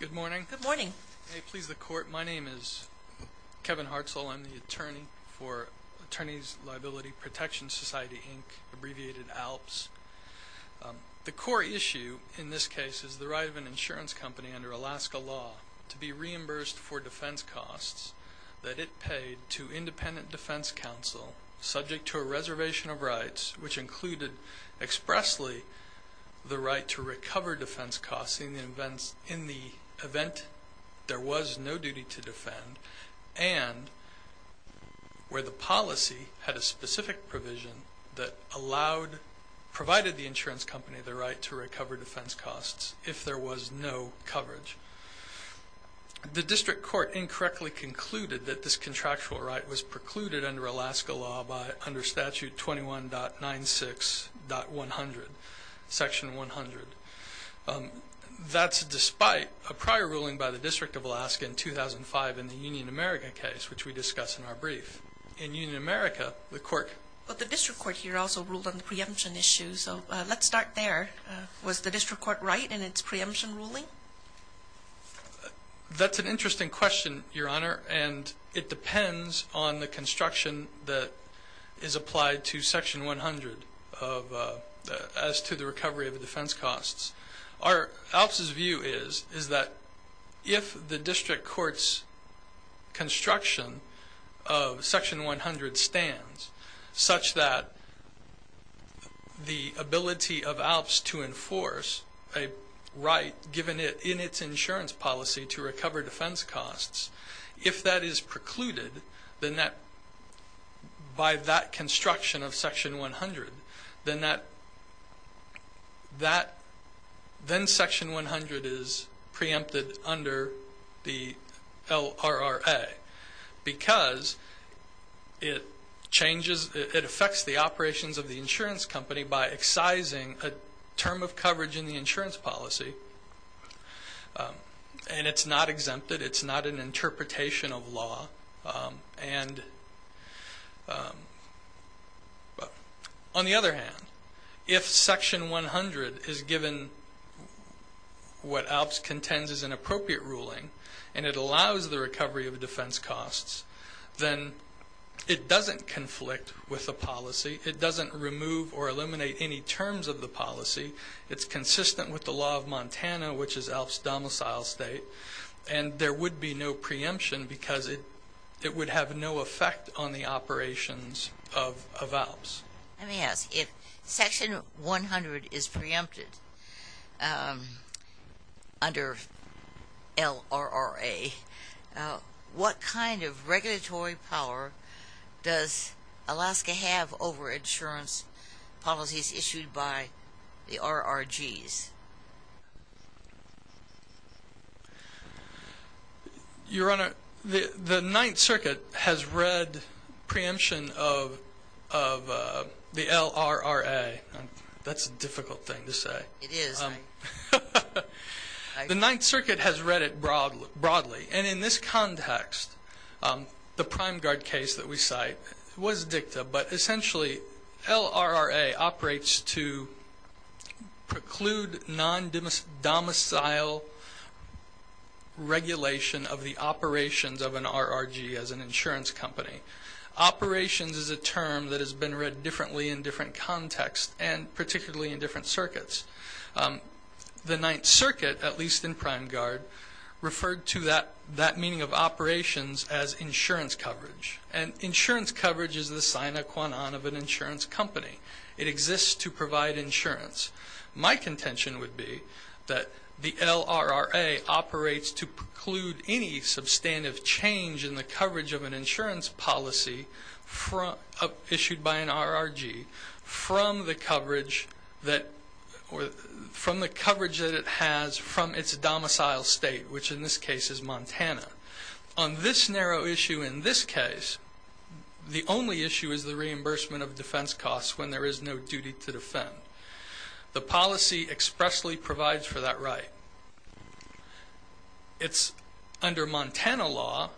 Good morning. May it please the Court, my name is Kevin Hartzell. I'm the Attorney for Attorneys Liability Protection Society, Inc., abbreviated ALPS. The core issue in this case is the right of an insurance company under Alaska law to be reimbursed for defense costs that it paid to independent defense counsel subject to a reservation of rights which included expressly the right to recover defense costs in the event there was no duty to defend and where the policy had a specific provision that provided the insurance company the right to recover defense costs if there was no coverage. The District Court incorrectly concluded that this contractual right was precluded under Alaska law by under Statute 21.96.100, Section 100. That's despite a prior ruling by the District of Alaska in 2005 in the Union America case which we discuss in our brief. In Union America, the Court... But the District Court here also ruled on the preemption issue, so let's start there. Was the District Court right in its preemption ruling? Well, that's an interesting question, Your Honor, and it depends on the construction that is applied to Section 100 as to the recovery of the defense costs. Our... ALPS's view is, is that if the District Court's construction of Section 100 stands such that the ability of ALPS to enforce a right given it in its insurance policy to recover defense costs, if that is precluded, by that construction of Section 100, then that... Then Section 100 is preempted under the LRRA because it changes... It affects the operations of the insurance company by excising a term of the insurance policy. And it's not exempted, it's not an interpretation of law. And on the other hand, if Section 100 is given what ALPS contends is an appropriate ruling and it allows the recovery of defense costs, then it doesn't conflict with the policy, it doesn't remove or eliminate any terms of the policy, it's consistent with the law of Montana, which is ALPS's domicile state, and there would be no preemption because it would have no effect on the operations of ALPS. Let me ask, if Section 100 is preempted under LRRA, now what kind of regulatory power does Alaska have over insurance policies issued by the RRGs? Your Honor, the Ninth Circuit has read preemption of the LRRA. That's a difficult thing to say. It is. The Ninth Circuit has read it broadly. And in this context, the Prime Guard case that we cite was dicta, but essentially LRRA operates to preclude non-domicile regulation of the operations of an RRG as an insurance company. Operations is a term that has been read differently in different contexts and particularly in the Ninth Circuit, at least in Prime Guard, referred to that meaning of operations as insurance coverage. And insurance coverage is the sine qua non of an insurance company. It exists to provide insurance. My contention would be that the LRRA operates to preclude any substantive change in the coverage of an insurance policy issued by an RRG from the coverage that it has from its domicile state, which in this case is Montana. On this narrow issue in this case, the only issue is the reimbursement of defense costs when there is no duty to defend. The policy expressly provides for that right. Under Montana law,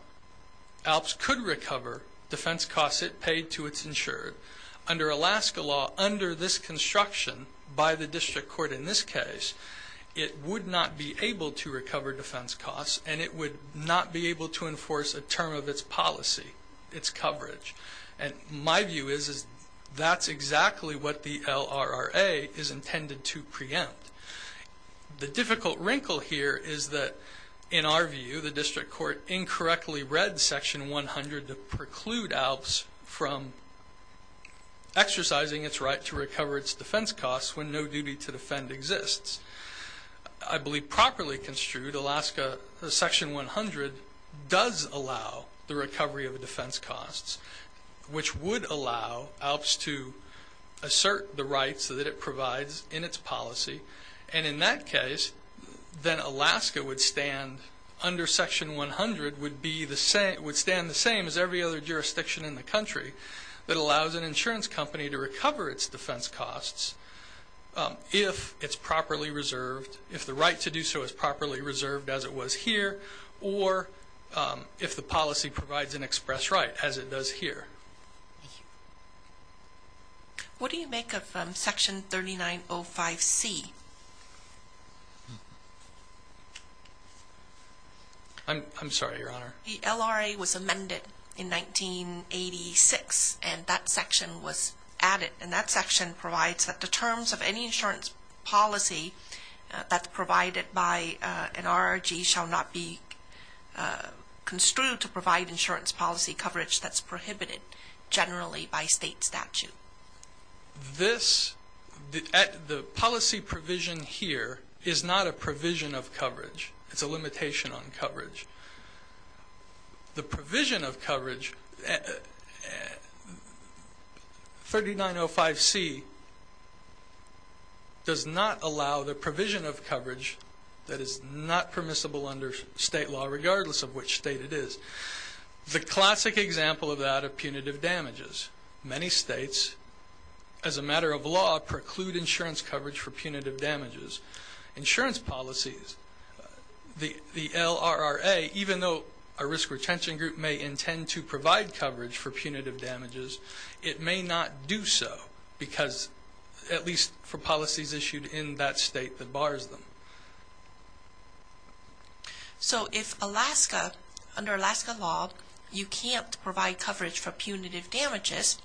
ALPS could recover defense costs it paid to its insured. Under Alaska law, under this construction by the district court in this case, it would not be able to recover defense costs and it would not be able to enforce a term of its policy, its coverage. And my view is that's exactly what the LRRA is intended to preempt. The difficult wrinkle here is that in our view, the district court incorrectly read section 100 to preclude ALPS from exercising its right to recover its defense costs when no duty to defend exists. I believe properly construed, Alaska section 100 does allow the recovery of defense costs, which would allow ALPS to assert the rights that it provides in its policy. And in that case, then Alaska would stand under section 100 would stand the same as every other jurisdiction in the country that allows an insurance company to recover its defense costs if it's properly reserved, if the right to do so is properly reserved as it was here or if the policy provides an express right as it does here. Thank you. What do you make of section 3905C? I'm sorry, Your Honor. The LRRA was amended in 1986 and that section was added. And that section provides that the terms of any insurance policy that's provided by an RRG shall not be construed to provide insurance policy coverage that's prohibited generally by state statute. This, the policy provision here is not a provision of coverage. It's a limitation on coverage. The provision of coverage, 3905C does not allow the provision of coverage that is not permissible under state law regardless of which state it is. The classic example of that are punitive damages. Many states, as a matter of law, preclude insurance coverage for punitive damages. Insurance policies, the LRRA, even though a risk retention group may intend to provide coverage for punitive damages, it may not do so because at least for policies issued in that state that bars them. So if Alaska, under Alaska law, you can't provide coverage for punitive damages,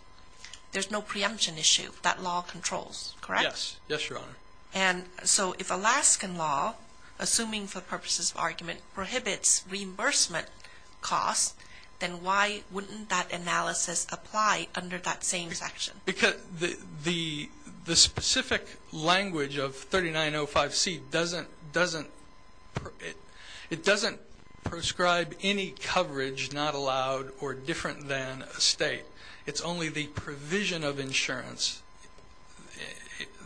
there's no preemption issue that law controls, correct? Yes. Yes, Your Honor. And so if Alaskan law, assuming for purposes of argument, prohibits reimbursement costs, then why wouldn't that analysis apply under that same section? Because the specific language of 3905C doesn't prescribe any coverage not allowed or different than a state. It's only the provision of insurance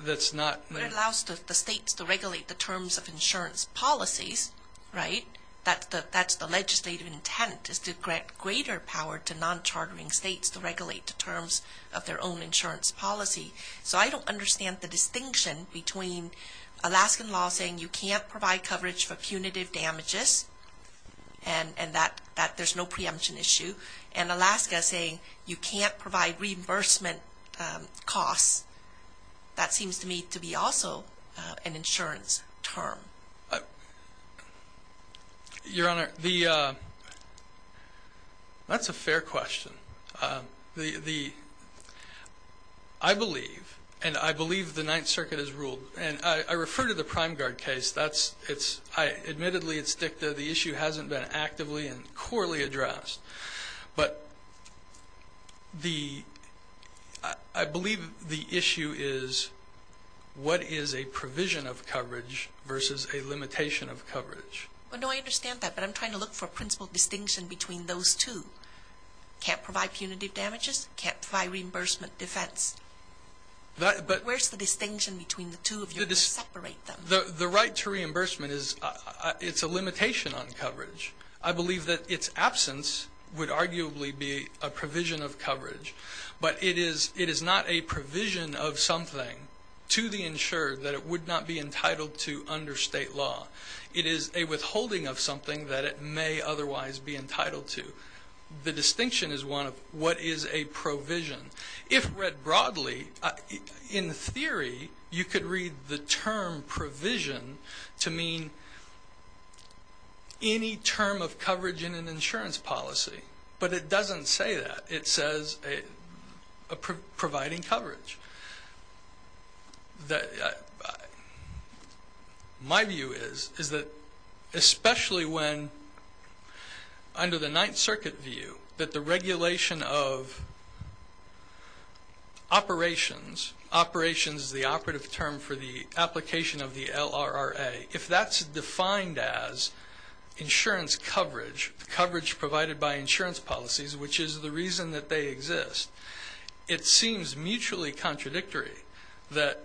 that's not there. But it allows the states to regulate the terms of insurance policies, right? That's the legislative intent is to grant greater power to non-chartering states to regulate the terms of their own insurance policy. So I don't understand the distinction between Alaskan law saying you can't provide coverage for punitive damages and that there's no preemption issue, and Alaska saying you can't provide reimbursement costs. That seems to me to be also an insurance term. Your Honor, that's a fair question. I believe, and I believe the Ninth Circuit has ruled, and I refer to the Prime Guard case. Admittedly, it's dicta. The issue hasn't been actively and I believe the issue is what is a provision of coverage versus a limitation of coverage. Well, no, I understand that, but I'm trying to look for principal distinction between those two. Can't provide punitive damages, can't provide reimbursement defense. Where's the distinction between the two if you're going to separate them? The right to reimbursement is a limitation on coverage. I believe that its absence would arguably be a provision of coverage, but it is not a provision of something to the insured that it would not be entitled to under state law. It is a withholding of something that it may otherwise be entitled to. The distinction is one of what is a provision. If read broadly, in theory, you could read the term provision to mean any term of coverage in an insurance policy, but it doesn't say that. It says providing coverage. My view is that especially when under the Ninth Circuit view that the regulation of operations, operations is the operative term for the application of the LRRA. If that's defined as insurance coverage, coverage provided by insurance policies, which is the reason that they exist, it seems mutually contradictory that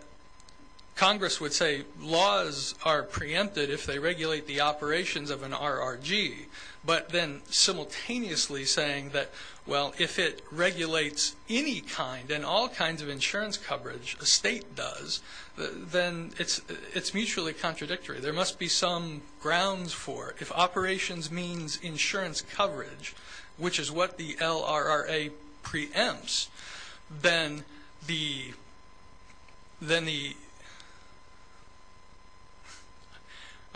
Congress would say laws are preempted if they regulate the operations of an RRG, but then simultaneously saying that, well, if it regulates any kind and all kinds of insurance coverage, a state does, then it's mutually contradictory. There must be some grounds for if operations means insurance coverage, which is what the LRRA preempts, then the...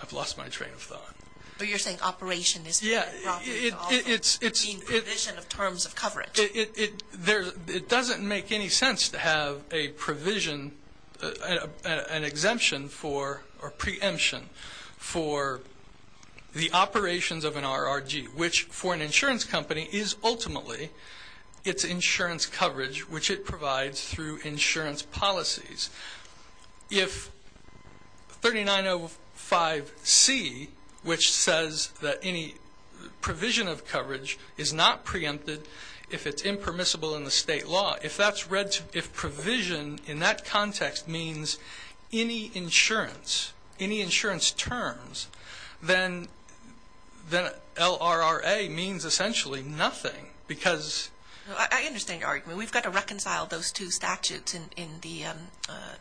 I've lost my train of thought. But you're saying operation is... Yeah, it's... ...a provision of terms of coverage. It doesn't make any sense to have a provision, an exemption for or preemption for the operations of an RRG, which for an insurance company is ultimately its insurance coverage, which it 3905C, which says that any provision of coverage is not preempted if it's impermissible in the state law. If that's read, if provision in that context means any insurance, any insurance terms, then LRRA means essentially nothing because... I understand your argument. We've got to reconcile those two statutes in the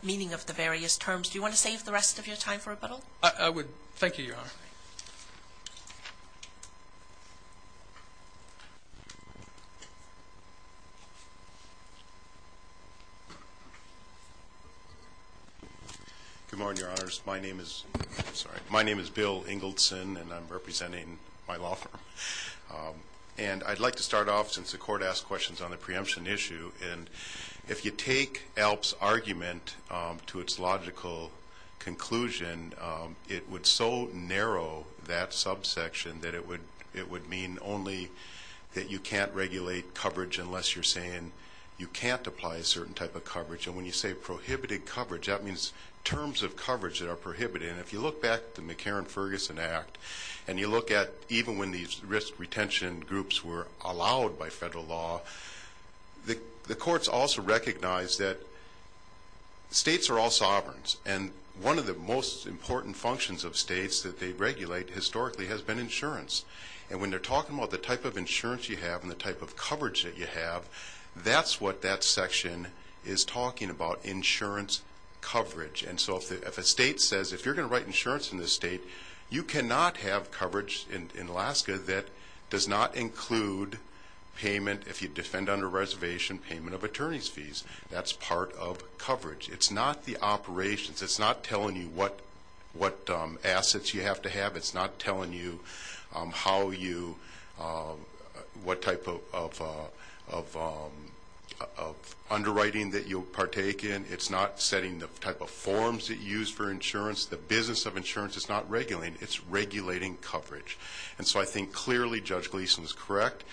meaning of the various terms. Do you want to save the rest of your time for rebuttal? I would. Thank you, Your Honor. Good morning, Your Honors. My name is Bill Engelson, and I'm representing my law firm. And I'd like to start off, since the court asked questions on the preemption issue, and if you take ALP's argument to its logical conclusion, it would so narrow that subsection that it would mean only that you can't regulate coverage unless you're saying you can't apply a certain type of coverage. And when you say prohibited coverage, that means terms of coverage that are prohibited. And if you look back to the McCarran-Ferguson Act, and you look even when these risk retention groups were allowed by federal law, the courts also recognized that states are all sovereigns, and one of the most important functions of states that they regulate historically has been insurance. And when they're talking about the type of insurance you have and the type of coverage that you have, that's what that section is talking about, insurance coverage. And so if a state says, if you're going to write insurance in this state, you cannot have coverage in Alaska that does not include payment, if you defend under reservation, payment of attorney's fees. That's part of coverage. It's not the operations. It's not telling you what assets you have to have. It's not telling you what type of underwriting that you'll partake in. It's not setting the type of forms that you use for insurance. The business of insurance is not regulating. It's regulating coverage. And so I think clearly Judge Gleeson is correct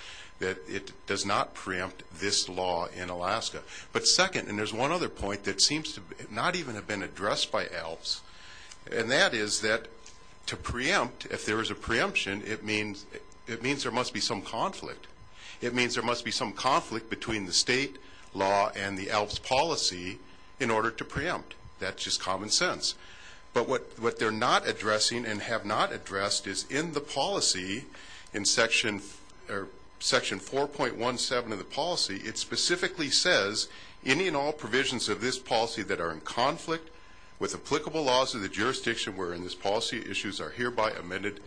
that it does not preempt this law in Alaska. But second, and there's one other point that seems to not even have been addressed by ALPS, and that is that to preempt, if there is a preemption, it means there must be some conflict. It means there must be some conflict between the and have not addressed is in the policy, in Section 4.17 of the policy, it specifically says, any and all provisions of this policy that are in conflict with applicable laws of the jurisdiction wherein this policy issues are hereby amended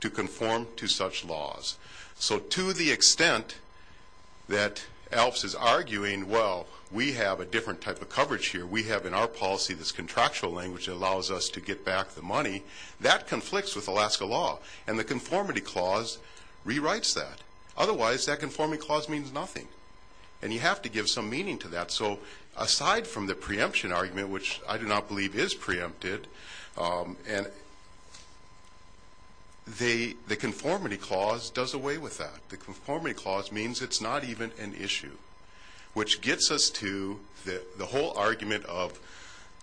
to conform to such laws. So to the extent that ALPS is arguing, well, we have a different type of coverage here. We have in our policy this money, that conflicts with Alaska law. And the conformity clause rewrites that. Otherwise, that conformity clause means nothing. And you have to give some meaning to that. So aside from the preemption argument, which I do not believe is preempted, the conformity clause does away with that. The conformity clause means it's not even an issue, which gets us to the whole argument of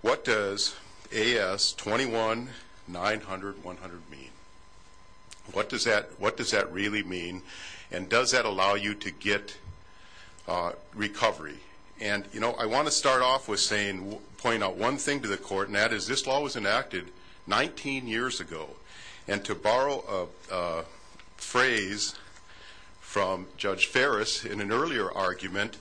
what does AS 21-900-100 mean? What does that really mean? And does that allow you to get recovery? And I want to start off with saying, point out one thing to the court, and that is this law was enacted 19 years ago. And to borrow a in an earlier argument,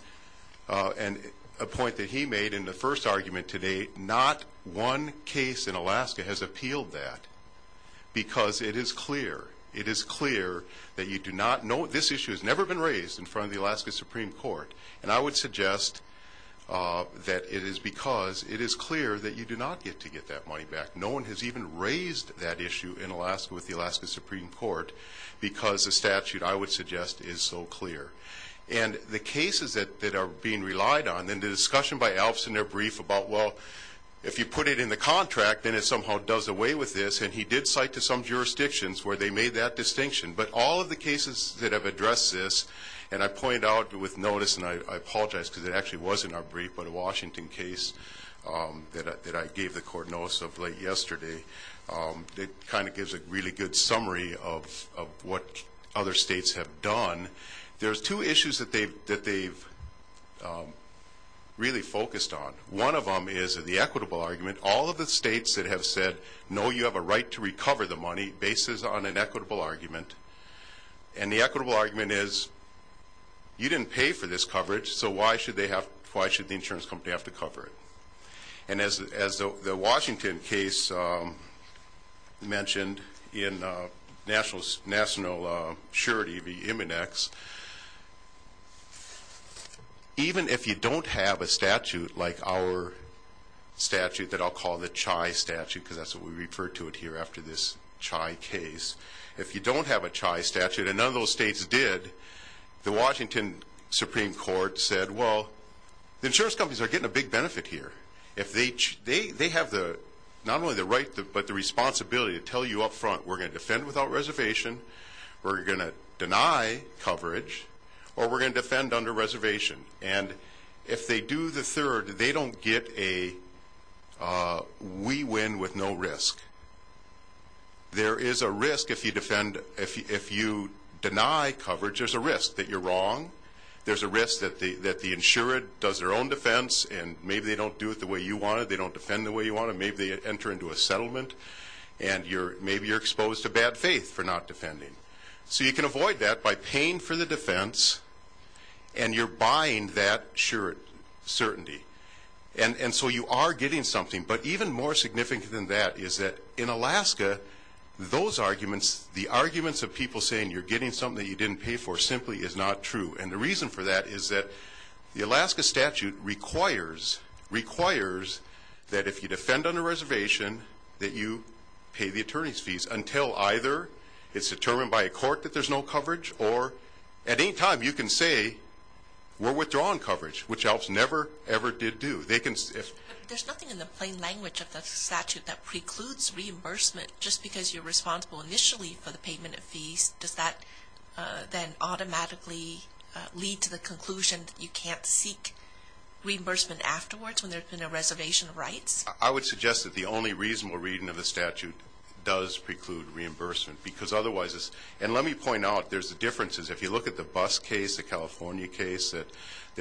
and a point that he made in the first argument to date, not one case in Alaska has appealed that. Because it is clear, it is clear that you do not know, this issue has never been raised in front of the Alaska Supreme Court. And I would suggest that it is because it is clear that you do not get to get that money back. No one has even raised that issue in Alaska with the Alaska Supreme Court, because the statute, I would suggest, is so clear. And the cases that are being relied on, and the discussion by Alves in their brief about, well, if you put it in the contract, then it somehow does away with this. And he did cite to some jurisdictions where they made that distinction. But all of the cases that have addressed this, and I point out with notice, and I apologize because it actually was in our brief, but a good summary of what other states have done, there's two issues that they've really focused on. One of them is the equitable argument. All of the states that have said, no, you have a right to recover the money, bases on an equitable argument. And the equitable argument is, you didn't pay for this coverage, so why should the insurance company have to cover it? And as the Washington case mentioned in national surety, the MNX, even if you don't have a statute like our statute that I'll call the CHI statute, because that's what we refer to it here after this CHI case, if you don't have a CHI statute, and none of those states did, the Washington Supreme Court said, well, the insurance companies are getting a big benefit here. They have not only the right, but the responsibility to tell you up front, we're going to defend without reservation, we're going to deny coverage, or we're going to defend under reservation. And if they do the third, they don't get a we win with no risk. There is a risk if you deny coverage, there's a risk that you're wrong. There's a risk that the insured does their own defense, and maybe they don't do it the way you want it, they don't defend the way you want it, maybe they enter into a settlement, and maybe you're exposed to bad faith for not defending. So you can avoid that by paying for the defense, and you're buying that surety. And so you are getting something. But even more significant than that is that in Alaska, those arguments, the arguments of people saying you're getting something that you didn't pay for simply is not true. And the reason for that is that the Alaska statute requires, requires that if you defend under reservation, that you pay the attorney's fees until either it's determined by a court that there's no coverage, or at any time, you can say, we're withdrawing coverage, which Alps never, ever did do. There's nothing in the plain language of the statute that precludes reimbursement, just because you're responsible initially for the payment of fees, does that then automatically lead to the conclusion that you can't seek reimbursement afterwards when there's been a reservation of rights? I would suggest that the only reasonable reading of the statute does preclude reimbursement, because otherwise, and let me point out, there's differences. If you look at the bus case, the California case that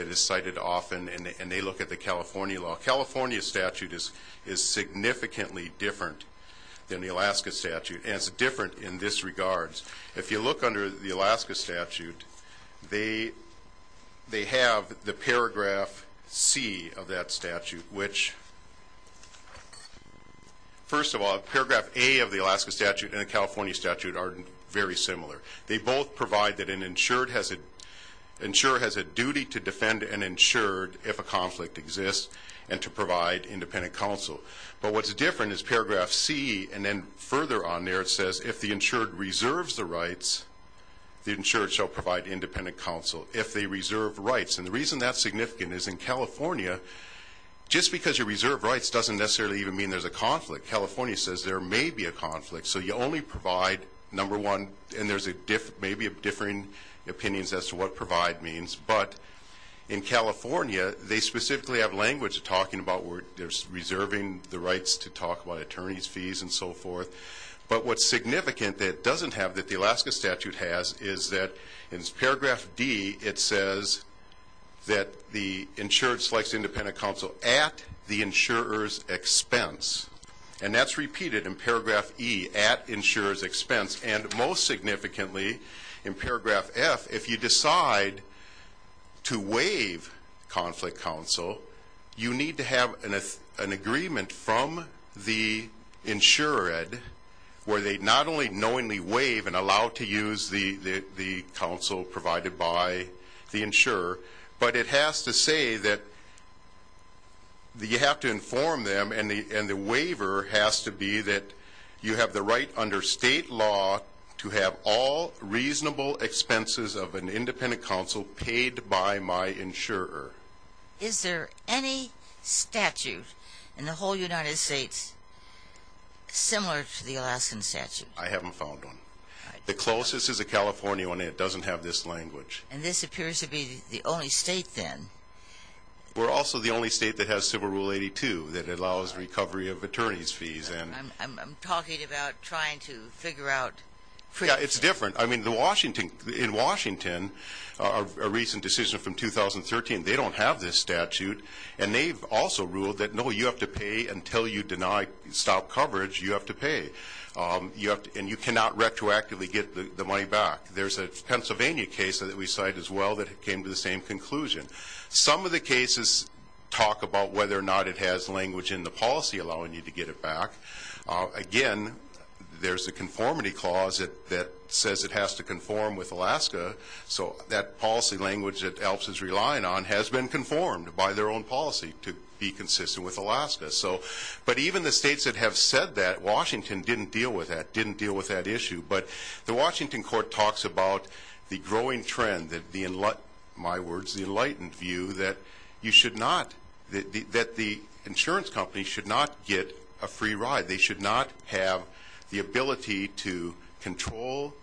is cited often, and they look at the California law, California statute is significantly different than the Alaska statute, and it's different in this regards. If you look under the Alaska statute, they have the paragraph C of that statute, which, first of all, paragraph A of the Alaska statute and the California statute are very similar. They both provide that an insured has a duty to defend an insured if a and to provide independent counsel. But what's different is paragraph C, and then further on there, it says if the insured reserves the rights, the insured shall provide independent counsel if they reserve rights. And the reason that's significant is in California, just because you reserve rights doesn't necessarily even mean there's a conflict. California says there may be a conflict, so you only provide, number one, and there's maybe differing opinions as to what California, they specifically have language talking about where they're reserving the rights to talk about attorneys fees and so forth. But what's significant that it doesn't have that the Alaska statute has is that in paragraph D, it says that the insured selects independent counsel at the insurer's expense. And that's repeated in paragraph E, at insurer's expense, and most significantly in paragraph F, if you decide to waive conflict counsel, you need to have an agreement from the insured where they not only knowingly waive and allow to use the counsel provided by the insurer, but it has to say that you have to inform them and the waiver has to be that you have the right under state law to have all reasonable expenses of an independent counsel paid by my insurer. Is there any statute in the whole United States similar to the Alaskan statute? I haven't found one. The closest is a California one. It doesn't have this language. And this appears to be the only state then? We're also the only state that has civil rule 82 that allows recovery of attorney's fees. I'm talking about trying to figure out. It's different. I mean, in Washington, a recent decision from 2013, they don't have this statute. And they've also ruled that, no, you have to pay until you stop coverage, you have to pay. And you cannot retroactively get the money back. There's a Pennsylvania case that we cite as well that came to the same conclusion. Some of the cases talk about whether or not it has language in the policy allowing you to get it back. Again, there's a conformity clause that says it has to conform with Alaska. So that policy language that ALPS is relying on has been conformed by their own policy to be consistent with Alaska. But even the states that have said that, Washington didn't deal with that, didn't deal with that issue. But the Washington court talks about the growing trend, my words, the enlightened view that you should not, that the insurance company should not get a free ride. They should not have the ability to control,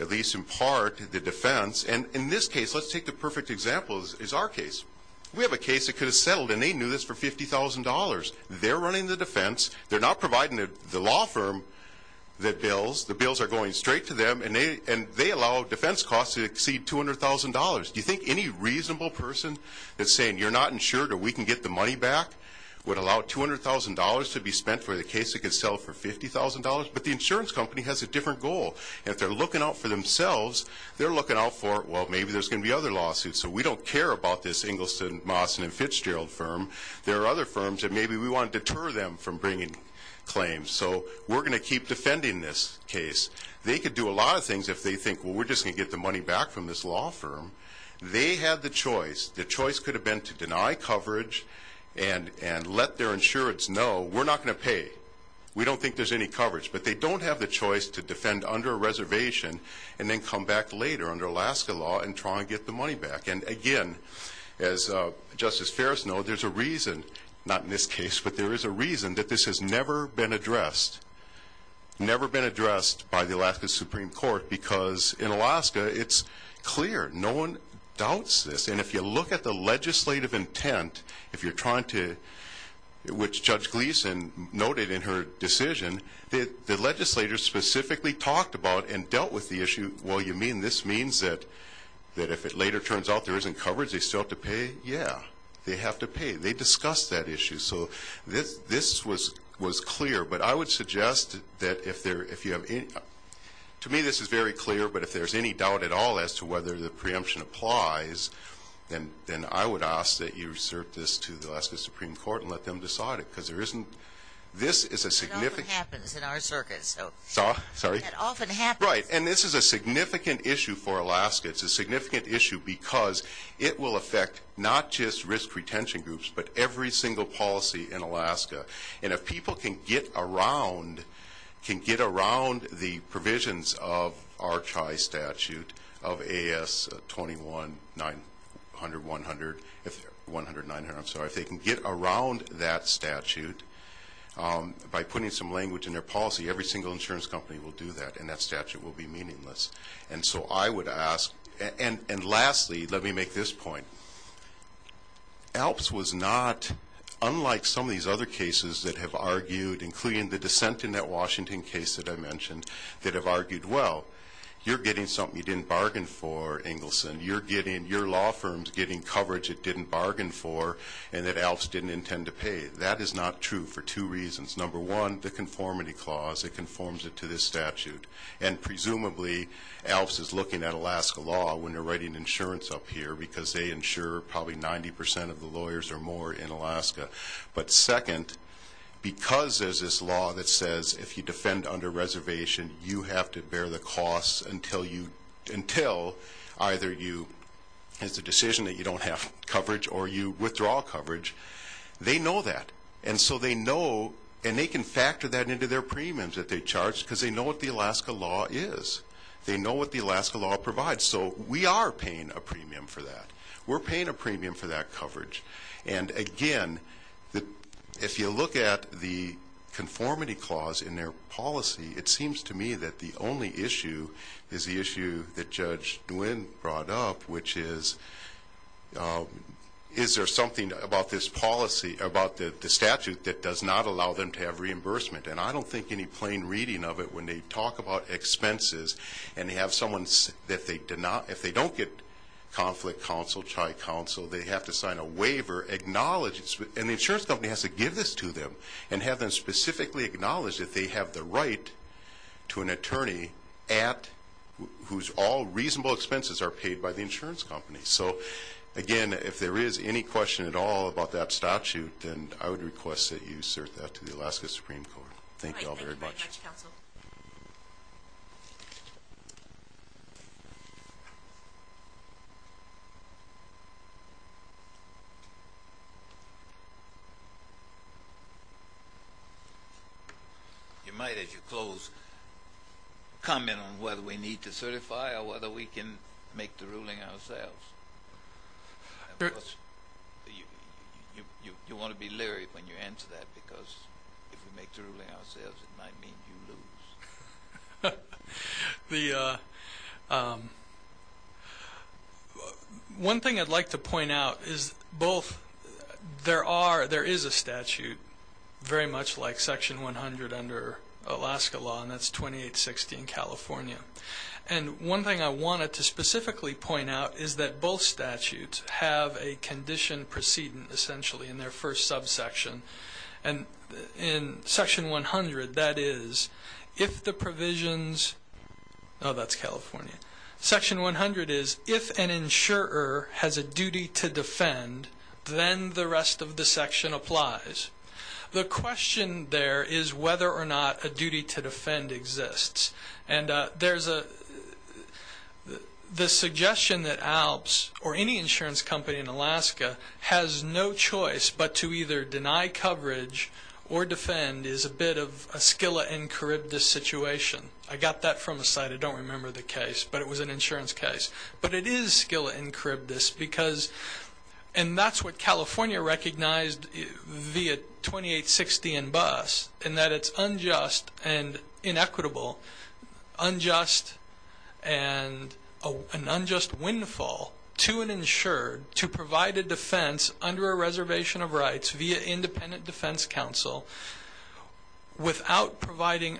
at least in part, the defense. And in this case, let's take the perfect example is our case. We have a case that could have settled and they knew this for $50,000. They're running the defense. They're not providing the law firm the bills. The bills are going straight to them and they allow defense costs to exceed $200,000. Do you think any reasonable person that's saying you're not insured or we can get the money back would allow $200,000 to be spent for the case that could sell for $50,000? But the insurance company has a different goal. If they're looking out for themselves, they're looking out for, well, maybe there's going to be other lawsuits. So we don't care about this Ingleston, Mawson and Fitzgerald firm. There are other firms that maybe we want to deter them from claims. So we're going to keep defending this case. They could do a lot of things if they think, well, we're just going to get the money back from this law firm. They have the choice. The choice could have been to deny coverage and let their insurance know we're not going to pay. We don't think there's any coverage, but they don't have the choice to defend under a reservation and then come back later under Alaska law and try and get the money back. And again, as Justice Ferris know, there's a reason, not in this case, but there is a reason that this has never been addressed. Never been addressed by the Alaska Supreme Court because in Alaska, it's clear. No one doubts this. And if you look at the legislative intent, if you're trying to, which Judge Gleason noted in her decision, the legislators specifically talked about and dealt with the issue. Well, you mean this means that if it later turns out there isn't coverage, they still have to pay? Yeah, they have to pay. They discussed that issue. So this was clear, but I would suggest that if there, if you have any, to me, this is very clear, but if there's any doubt at all as to whether the preemption applies, then I would ask that you assert this to the Alaska Supreme Court and let them decide it. Because there isn't, this is a significant. It often happens in our circuit. Sorry? It often happens. Right. And this is a significant issue for Alaska. It's a significant issue because it will affect not just risk retention groups, but every single policy in Alaska. And if people can get around, can get around the provisions of our CHI statute of AS-21-900, 100, 100, 900, I'm sorry. If they can get around that statute by putting some language in their policy, every single insurance company will do that and that statute will be meaningless. And so I would ask, and lastly, let me make this point. ALPS was not, unlike some of these other cases that have argued, including the dissent in that Washington case that I mentioned, that have argued, well, you're getting something you didn't bargain for, Engelson. You're getting, your law firm's getting coverage it didn't bargain for and that ALPS didn't intend to pay. That is not true for two reasons. Number one, the conformity clause, it conforms it to this statute. And presumably ALPS is looking at Alaska law when writing insurance up here because they insure probably 90 percent of the lawyers or more in Alaska. But second, because there's this law that says if you defend under reservation, you have to bear the costs until you, until either you, it's a decision that you don't have coverage or you withdraw coverage. They know that. And so they know, and they can factor that into their premiums that they charge because they know what the Alaska law is. They know what the Alaska law provides. So we are paying a premium for that. We're paying a premium for that coverage. And again, if you look at the conformity clause in their policy, it seems to me that the only issue is the issue that Judge Nguyen brought up, which is, is there something about this policy, about the statute that does not allow them to have reimbursement? And I don't think any plain reading of it when they talk about expenses and they have someone that they do not, if they don't get conflict counsel, tri-counsel, they have to sign a waiver acknowledging, and the insurance company has to give this to them and have them specifically acknowledge that they have the right to an attorney at, whose all reasonable expenses are paid by the insurance company. So again, if there is any question at all about that statute, then I would request that you assert that to the Alaska Supreme Court. Thank you all very much. You might, as you close, comment on whether we need to certify or whether we can make the ruling ourselves. You want to be leery when you answer that because if we make the ruling ourselves, it might mean you lose. The, one thing I'd like to point out is both, there are, there is a statute very much like section 100 under Alaska law, and that's 2860 in California. And one thing I wanted to specifically point out is that both statutes have a condition precedent essentially in their subsection. And in section 100, that is, if the provisions, oh, that's California. Section 100 is, if an insurer has a duty to defend, then the rest of the section applies. The question there is whether or not a duty to defend exists. And there's a, the suggestion that ALPS or any insurance company in Alaska has no choice but to either deny coverage or defend is a bit of a skillet and charybdis situation. I got that from a site, I don't remember the case, but it was an insurance case. But it is skillet and charybdis because, and that's what California recognized via 2860 and BUS in that it's unjust and an unjust windfall to an insured to provide a defense under a reservation of rights via independent defense counsel without providing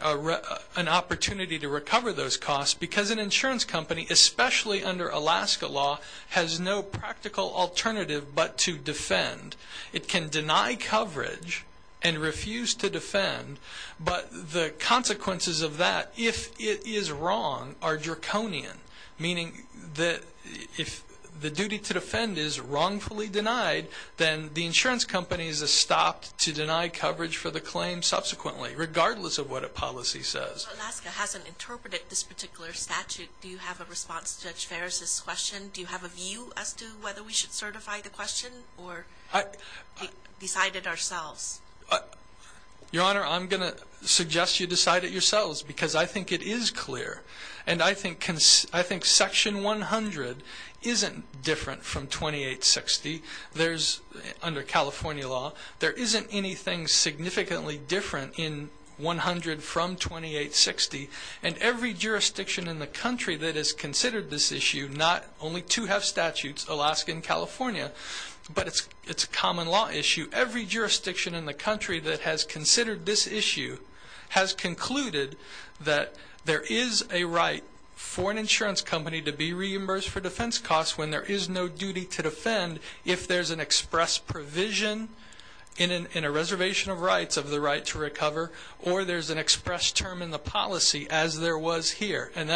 an opportunity to recover those costs because an insurance company, especially under Alaska law, has no practical alternative but to defend. It can deny coverage and refuse to defend, but the consequences of that, if it is wrong, are draconian, meaning that if the duty to defend is wrongfully denied, then the insurance company is stopped to deny coverage for the claim subsequently, regardless of what a policy says. Alaska hasn't interpreted this particular statute. Do you have a response to Judge Ferris' question? Do you have a view as to whether we should certify the question or decide it ourselves? Your Honor, I'm going to suggest you decide it yourselves because I think it is clear. And I think section 100 isn't different from 2860. There's, under California law, there isn't anything significantly different in 100 from 2860. And every jurisdiction in the country that has considered this issue, not only two have statutes, Alaska and California, but it's a common law issue. Every jurisdiction in the country that has considered this issue has concluded that there is a right for an insurance company to be reimbursed for defense costs when there is no duty to defend if there's an express provision in a reservation of rights of the right to recover or there's an express term in the policy as there was here. And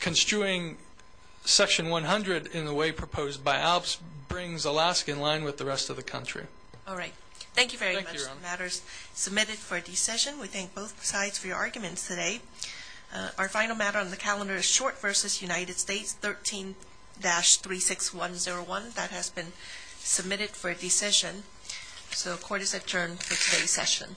construing section 100 in the way proposed by ALPS brings Alaska in line with the rest of the country. All right. Thank you very much. The matter is submitted for a decision. We thank both sides for your arguments today. Our final matter on the calendar is short versus United States, 13-36101. That has been submitted for a decision. So court is adjourned for today's session. Thank you very much.